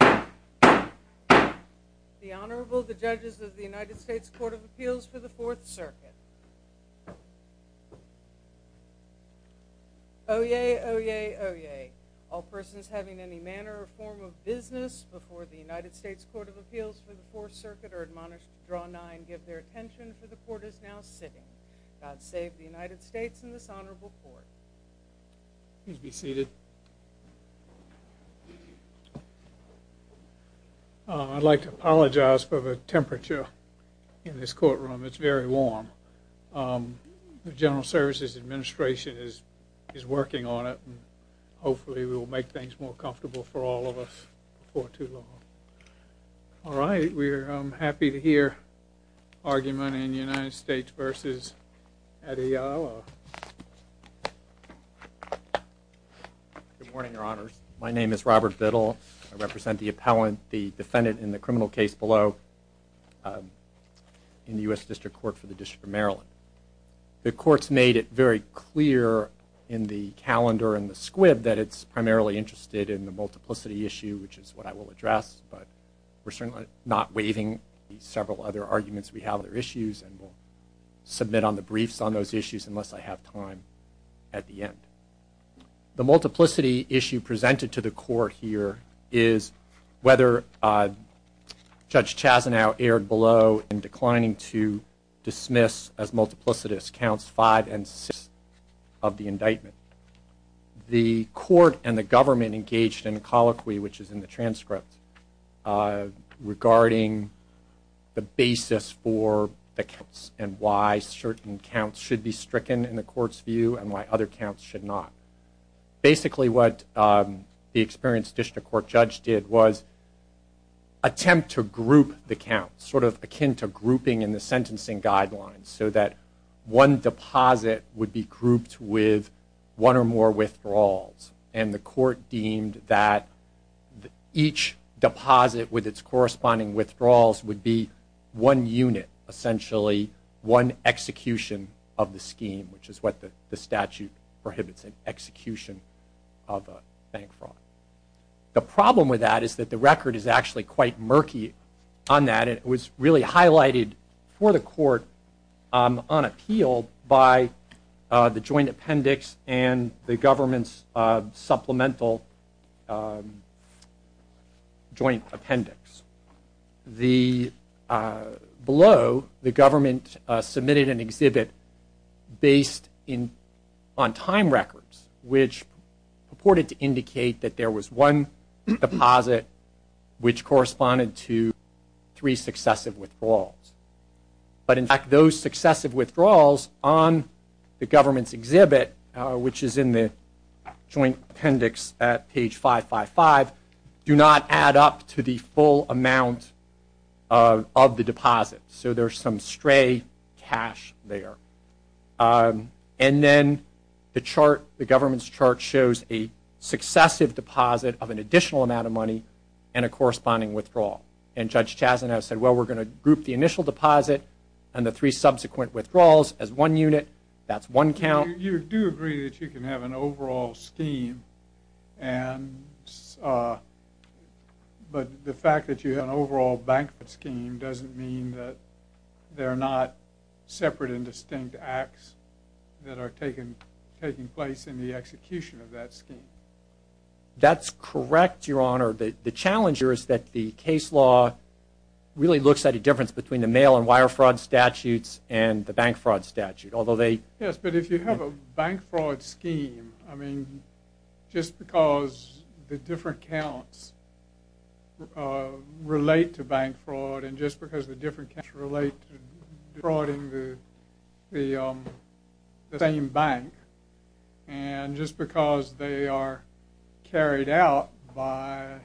The Honorable, the Judges of the United States Court of Appeals for the Fourth Circuit. Oyez, oyez, oyez. All persons having any manner or form of business before the United States Court of Appeals for the Fourth Circuit are admonished to draw nine, give their attention, for the Court is now sitting. God save the United States and this Honorable Court. Please be seated. I'd like to apologize for the temperature in this courtroom. It's very warm. The General Services Administration is working on it and hopefully we'll make things more comfortable for all of us before too long. All right, we're happy to hear argument in the United States v. Adeyale. Good morning, Your Honors. My name is Robert Biddle. I represent the appellant, the defendant in the criminal case below in the U.S. District Court for the District of Maryland. The Court's made it very clear in the calendar and the squib that it's primarily interested in the multiplicity issue, which is what I will address, but we're certainly not waiving several other arguments. We have other issues and we'll submit on the briefs on those issues unless I have time at the end. The multiplicity issue presented to the Court here is whether Judge Chazanow erred below in declining to dismiss as multiplicitous counts five and six of the indictment. The Court and the government engaged in a colloquy, which is in the transcript, regarding the basis for the counts and why certain counts should be stricken in the Court's view and why other counts should not. Basically what the experienced District Court judge did was attempt to group the counts, sort of akin to grouping in the sentencing guidelines, so that one deposit would be grouped with one or more withdrawals. The Court deemed that each deposit with its corresponding withdrawals would be one unit, essentially one execution of the scheme, which is what the statute prohibits, an execution of a bank fraud. The problem with that is that the record is actually quite murky on that. It was really highlighted for the Court on appeal by the joint appendix and the government's supplemental joint appendix. Below, the government submitted an exhibit based on time records, which purported to indicate that there was one deposit which corresponded to three successive withdrawals. But in fact, those successive withdrawals on the government's exhibit, which is in the joint appendix at page 555, do not add up to the full amount of the deposit. So there's some stray cash there. And then the government's chart shows a successive deposit of an additional amount of money and a corresponding withdrawal. And Judge Chazanow said, well, we're going to group the initial deposit and the three subsequent withdrawals as one unit. That's one count. You do agree that you can have an overall scheme, but the fact that you have an overall bank fraud scheme doesn't mean that there are not separate and distinct acts that are taking place in the execution of that scheme. That's correct, Your Honor. The challenge here is that the case law really looks at a difference between the mail and wire fraud statutes and the bank fraud statute. Yes, but if you have a bank fraud scheme, I mean, just because the different counts relate to bank fraud and just because the different counts relate to defrauding the same bank, and just because they are carried out by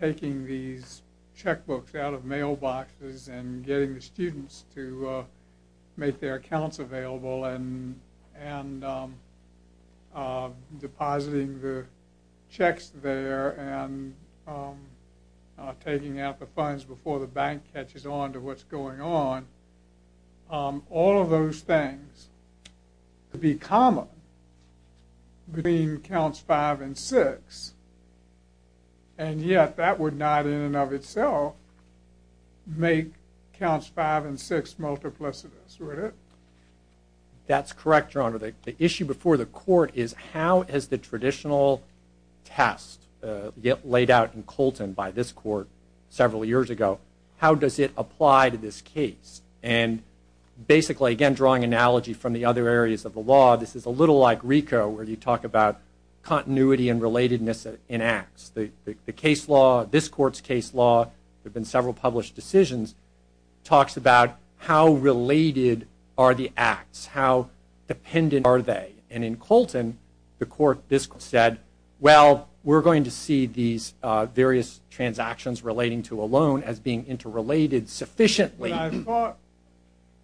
taking these checkbooks out of mailboxes and getting the students to make their accounts available and depositing the checks there and taking out the funds before the bank catches on to what's going on, all of those things would be common between counts five and six, and yet that would not in and of itself make counts five and six multiplicitous, would it? That's correct, Your Honor. The issue before the court is how has the traditional test laid out in Colton by this court several years ago, how does it apply to this case? And basically, again, drawing analogy from the other areas of the law, this is a little like RICO where you talk about continuity and relatedness in acts. The case law, this court's case law, there have been several published decisions, talks about how related are the acts, how dependent are they? And in Colton, the court said, well, we're going to see these various transactions relating to a loan as being interrelated sufficiently.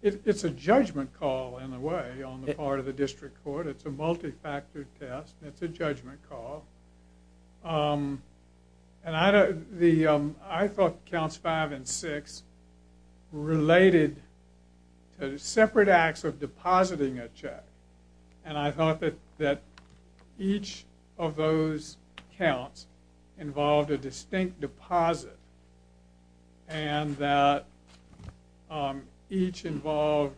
It's a judgment call, in a way, on the part of the district court. It's a multifactor test. It's a judgment call. I thought counts five and six related to separate acts of depositing a check, and I thought that each of those counts involved a distinct deposit, and that each involved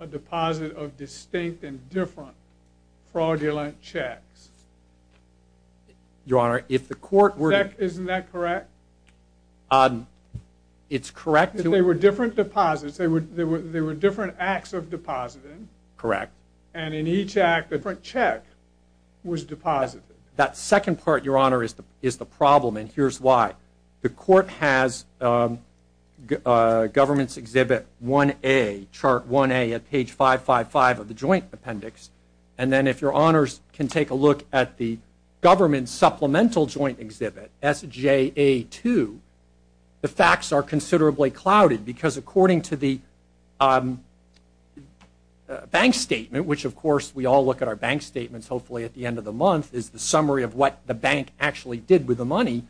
a deposit of distinct and different fraudulent checks. Your Honor, if the court were to... Check, isn't that correct? It's correct to... If they were different deposits, they were different acts of depositing. Correct. And in each act, a different check was deposited. That second part, Your Honor, is the problem, and here's why. The court has Government's Exhibit 1A, Chart 1A at page 555 of the Joint Appendix, and then if Your Honors can take a look at the Government Supplemental Joint Exhibit, SJA2, the facts are considerably clouded because according to the bank statement, which, of course, we all look at our bank statements, hopefully, at the end of the month, is the summary of what the bank actually did with the money,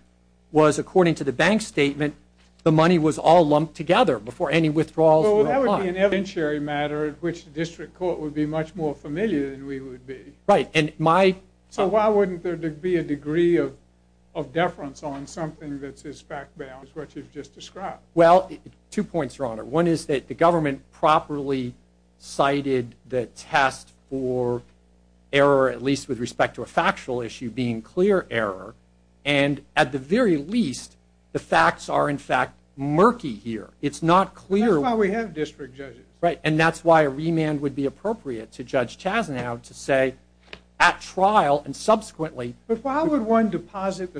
was according to the bank statement, the money was all lumped together before any withdrawals were applied. Well, that would be an evidentiary matter at which the district court would be much more familiar than we would be. Right, and my... So why wouldn't there be a degree of deference on something that's as fact-bound as what you've just described? Well, two points, Your Honor. One is that the government properly cited the test for error, at least with respect to a factual issue being clear error, and at the very least, the facts are, in fact, murky here. It's not clear... That's why we have district judges. Right, and that's why a remand would be appropriate to Judge Chasnow to say at trial and subsequently... Why would someone deposit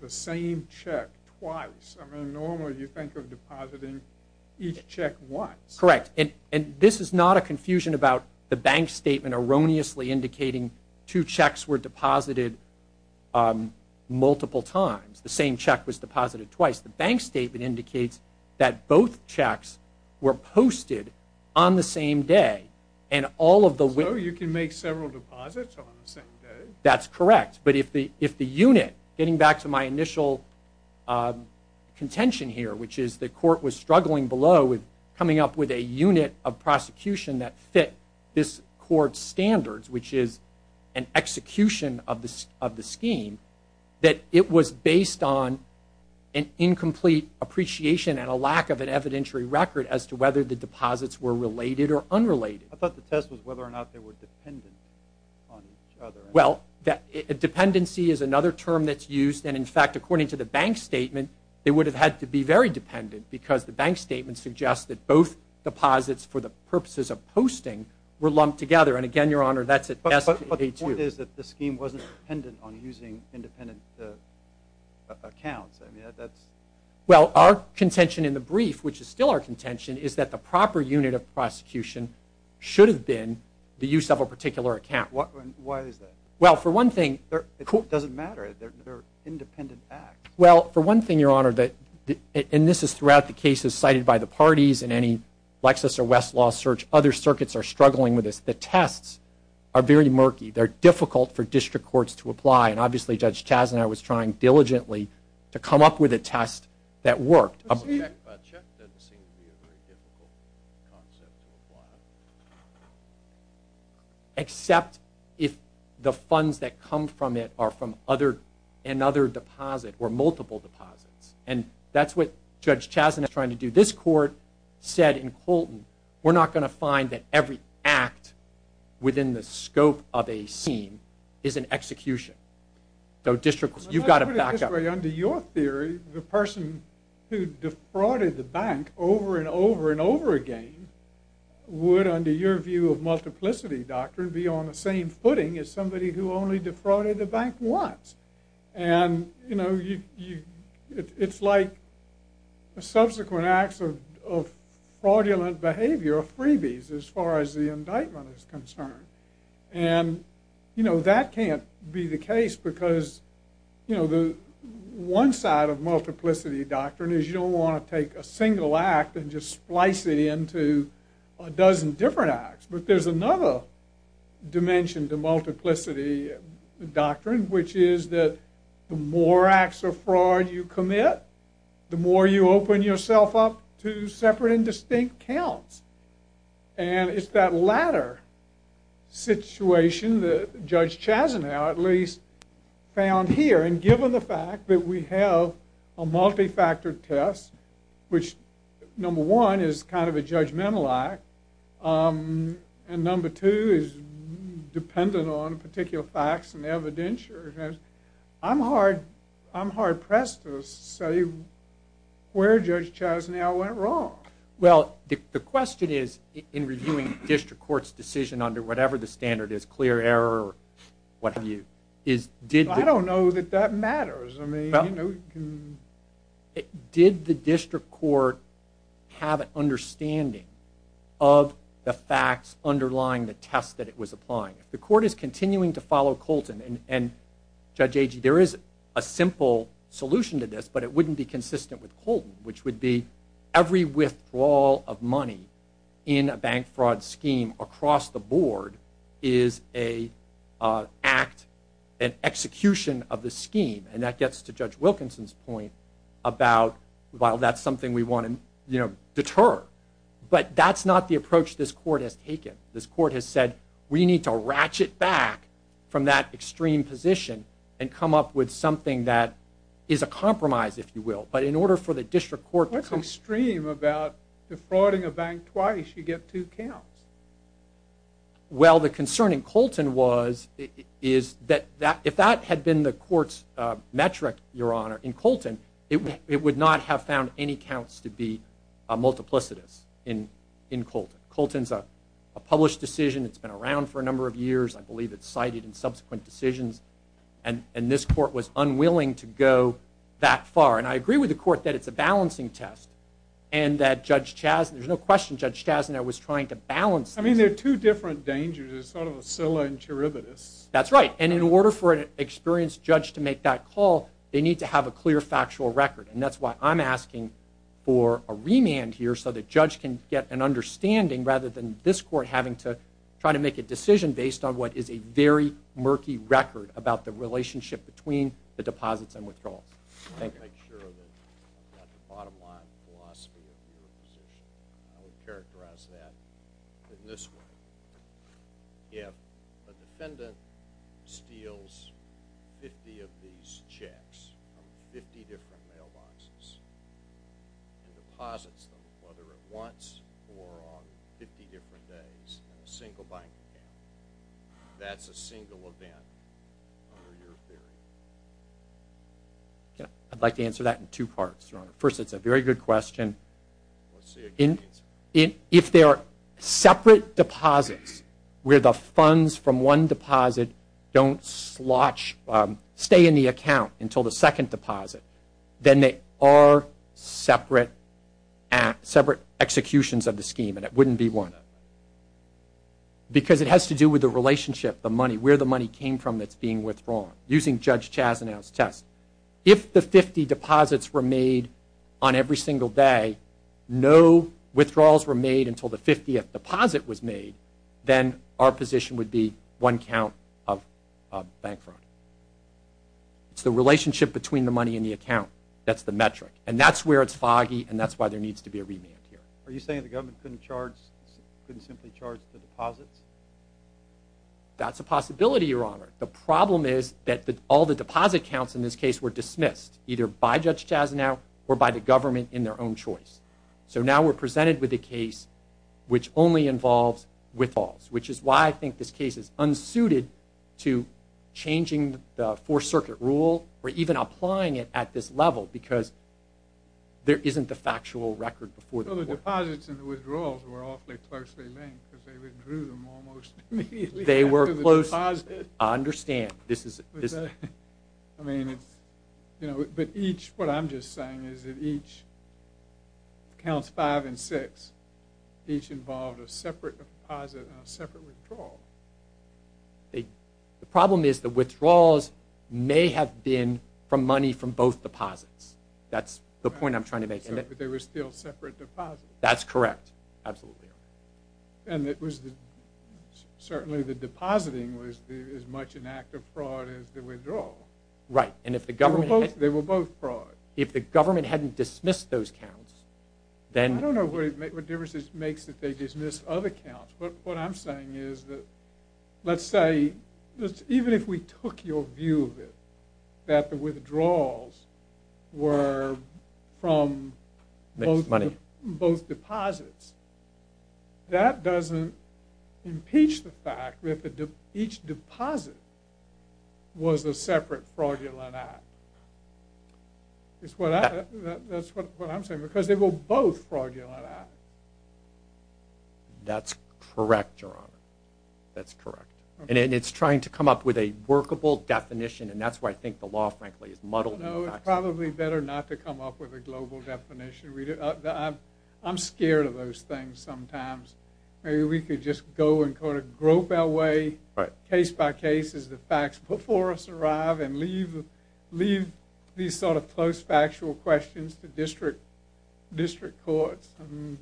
the same check twice? I mean, normally, you think of depositing each check once. Correct, and this is not a confusion about the bank statement erroneously indicating two checks were deposited multiple times. The same check was deposited twice. The bank statement indicates that both checks were posted on the same day, and all of the... So you can make several deposits on the same day. That's correct, but if the unit, getting back to my initial contention here, which is the court was struggling below with coming up with a unit of prosecution that fit this court's standards, which is an execution of the scheme, that it was based on an incomplete appreciation and a lack of an evidentiary record as to whether the deposits were related or unrelated. I thought the test was whether or not they were dependent on each other. Well, dependency is another term that's used, and in fact, according to the bank statement, they would have had to be very dependent because the bank statement suggests that both deposits, for the purposes of posting, were lumped together. And again, Your Honor, that's at S.P.A. 2. But the point is that the scheme wasn't dependent on using independent accounts. Well, our contention in the brief, which is still our contention, is that the proper unit of prosecution should have been the use of a particular account. Why is that? Well, for one thing... It doesn't matter. They're an independent act. Well, for one thing, Your Honor, and this is throughout the cases cited by the parties in any Lexis or Westlaw search, other circuits are struggling with this. The tests are very murky. They're difficult for district courts to apply, and obviously Judge Chazanow was trying diligently to come up with a test that worked. A check doesn't seem to be a very difficult concept to apply. Except if the funds that come from it are from another deposit or multiple deposits. And that's what Judge Chazanow was trying to do. This court said in Colton, we're not going to find that every act within the scope of a scheme is an execution. So districts, you've got to back up. Under your theory, the person who defrauded the bank over and over and over again would, under your view of multiplicity doctrine, be on the same footing as somebody who only defrauded the bank once. And, you know, it's like subsequent acts of fraudulent behavior, freebies as far as the indictment is concerned. And, you know, that can't be the case because, you know, one side of multiplicity doctrine is you don't want to take a single act and just splice it into a dozen different acts. But there's another dimension to multiplicity doctrine, which is that the more acts of fraud you commit, the more you open yourself up to separate and distinct counts. And it's that latter situation that Judge Chazanow at least found here. And given the fact that we have a multi-factor test, which number one is kind of a judgmental act, and number two is dependent on particular facts and evidentiaries, I'm hard-pressed to say where Judge Chazanow went wrong. Well, the question is in reviewing district court's decision under whatever the standard is, clear error or what have you, is did the I don't know that that matters. Did the district court have an understanding of the facts underlying the test that it was applying? If the court is continuing to follow Colton, and Judge Agee, there is a simple solution to this, but it wouldn't be consistent with Colton, which would be every withdrawal of money in a bank fraud scheme across the board is an execution of the scheme. And that gets to Judge Wilkinson's point about, well, that's something we want to deter. But that's not the approach this court has taken. This court has said, we need to ratchet back from that extreme position and come up with something that is a compromise, if you will. But in order for the district court to come What's extreme about defrauding a bank twice, you get two counts? Well, the concern in Colton was, is that if that had been the court's metric, Your Honor, in Colton, it would not have found any counts to be multiplicitous in Colton. Colton's a published decision. It's been around for a number of years. I believe it's cited in subsequent decisions. And this court was unwilling to go that far. And I agree with the court that it's a balancing test, and that Judge Chazin, there's no question Judge Chazin I was trying to balance this. I mean, they're two different dangers. It's sort of a scylla in cherubitis. That's right. And in order for an experienced judge to make that call, they need to have a clear factual record. And that's why I'm asking for a remand here so the judge can get an understanding, rather than this court having to try to make a decision based on what is a very murky record about the relationship between the deposits and withdrawals. I want to make sure that I've got the bottom line philosophy of your position. I would characterize that in this way. If a defendant steals 50 of these checks from 50 different mailboxes and deposits them, whether at once or on 50 different days in a single banking account, that's a single event under your theory. I'd like to answer that in two parts, Your Honor. First, it's a very good question. If there are separate deposits where the funds from one deposit don't stay in the account until the second deposit, then they are separate executions of the scheme and it wouldn't be one. Because it has to do with the relationship, the money, where the money came from that's being withdrawn, using Judge Chazinow's test. If the 50 deposits were made on every single day, no withdrawals were made until the 50th deposit was made, then our position would be one count of bank fraud. It's the relationship between the money and the account that's the metric. And that's where it's foggy, and that's why there needs to be a remand here. Are you saying the government couldn't simply charge the deposits? That's a possibility, Your Honor. The problem is that all the deposit counts in this case were dismissed, either by Judge Chazinow or by the government in their own choice. So now we're presented with a case which only involves withdrawals, which is why I think this case is unsuited to changing the Fourth Circuit rule or even applying it at this level, because there isn't the factual record before the Fourth Circuit. So the deposits and the withdrawals were awfully closely linked because they withdrew them almost immediately after the deposit. I understand. I mean, but each, what I'm just saying is that each, counts five and six, each involved a separate deposit and a separate withdrawal. The problem is the withdrawals may have been from money from both deposits. That's the point I'm trying to make. But they were still separate deposits. That's correct. Absolutely, Your Honor. And it was certainly the depositing was as much an act of fraud as the withdrawal. Right. And if the government... They were both fraud. If the government hadn't dismissed those counts, then... I don't know what difference it makes that they dismissed other counts. What I'm saying is that, let's say, even if we took your view of it, that the withdrawals were from both deposits, that doesn't impeach the fact that each deposit was a separate fraudulent act. That's what I'm saying because they were both fraudulent acts. That's correct, Your Honor. That's correct. And it's trying to come up with a workable definition and that's why I think the law, frankly, is muddled. No, it's probably better not to come up with a global definition. I'm scared of those things sometimes. Maybe we could just go and grope our way, case by case, as the facts before us arrive and leave these sort of close factual questions to district courts and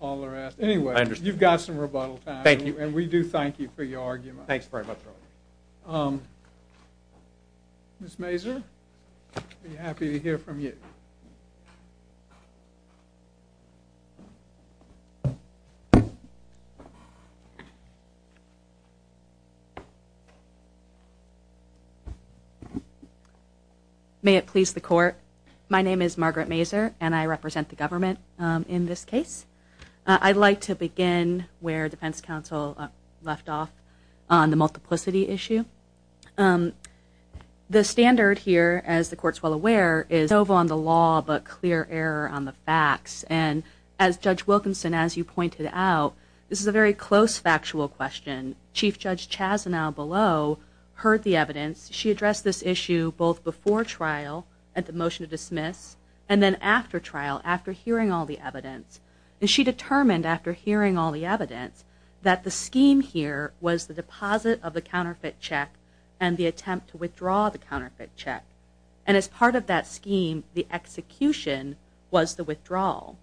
all the rest. Anyway, you've got some rebuttal time. Thank you. Thanks very much, Your Honor. Ms. Mazur, I'd be happy to hear from you. May it please the Court, my name is Margaret Mazur and I represent the government in this case. I'd like to begin where defense counsel left off on the multiplicity issue. The standard here, as the Court's well aware, is sovereign on the law but clear error on the facts. And as Judge Wilkinson, as you pointed out, this is a very close factual question. Chief Judge Chazanow below heard the evidence. She addressed this issue both before trial at the motion to dismiss and then after trial, after hearing all the evidence. And she determined after hearing all the evidence that the scheme here was the deposit of the counterfeit check and the attempt to withdraw the counterfeit check. And as part of that scheme, the execution was the withdrawal.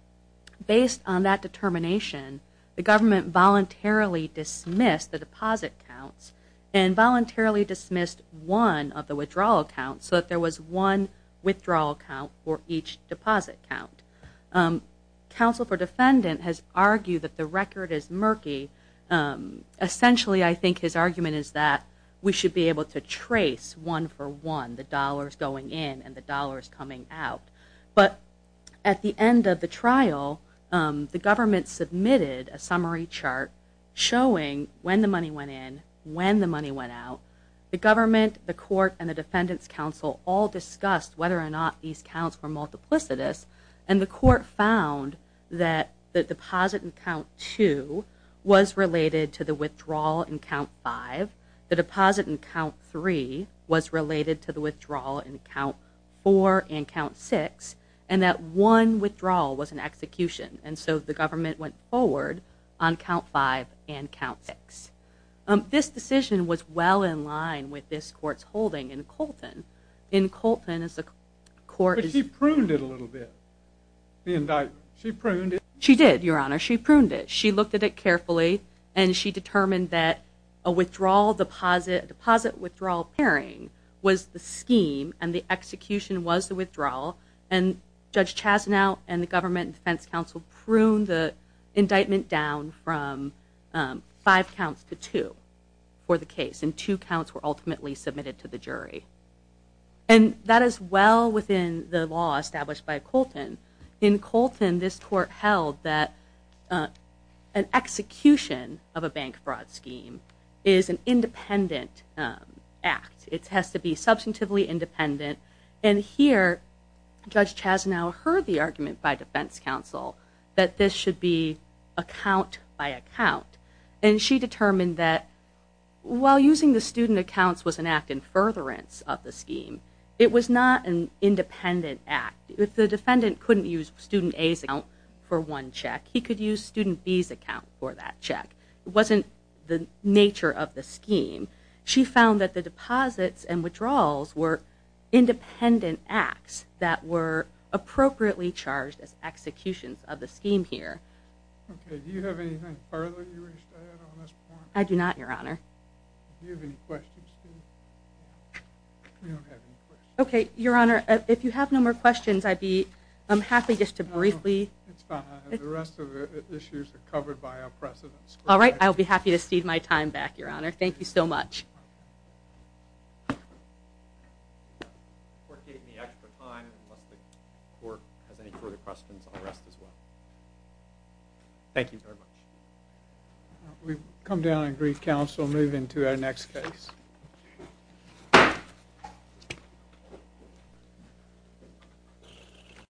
Based on that determination, the government voluntarily dismissed the deposit counts and voluntarily dismissed one of the withdrawal counts so that there was one withdrawal count for each deposit count. Counsel for defendant has argued that the record is murky. Essentially, I think his argument is that we should be able to trace one for one, the dollars going in and the dollars coming out. But at the end of the trial, the government submitted a summary chart showing when the money went in, when the money went out. The government, the court, and the defendant's counsel all discussed whether or not these counts were multiplicitous. And the court found that the deposit in count 2 was related to the withdrawal in count 5. The deposit in count 3 was related to the withdrawal in count 4 and count 6. And that one withdrawal was an execution. And so the government went forward on count 5 and count 6. But she pruned it a little bit, the indictment. She pruned it? She did, Your Honor. She pruned it. She looked at it carefully and she determined that a deposit-withdrawal pairing was the scheme and the execution was the withdrawal. And Judge Chasnow and the government and defense counsel pruned the indictment down from 5 counts to 2 for the case. And 2 counts were ultimately submitted to the jury. And that is well within the law established by Colton. In Colton, this court held that an execution of a bank fraud scheme is an independent act. It has to be substantively independent. And here, Judge Chasnow heard the argument by defense counsel that this should be a count by a count. And she determined that while using the student accounts was an act in furtherance of the scheme, it was not an independent act. If the defendant couldn't use student A's account for one check, he could use student B's account for that check. It wasn't the nature of the scheme. She found that the deposits and withdrawals were independent acts that were appropriately charged as executions of the scheme here. Okay, do you have anything further you wish to add on this point? I do not, Your Honor. Do you have any questions? Okay, Your Honor, if you have no more questions, I'm happy just to briefly... It's fine. The rest of the issues are covered by our precedents. All right, I'll be happy to cede my time back, Your Honor. Thank you so much. I won't take any extra time unless the court has any further questions. I'll rest as well. Thank you very much. We've come down and agreed counsel. We'll move into our next case.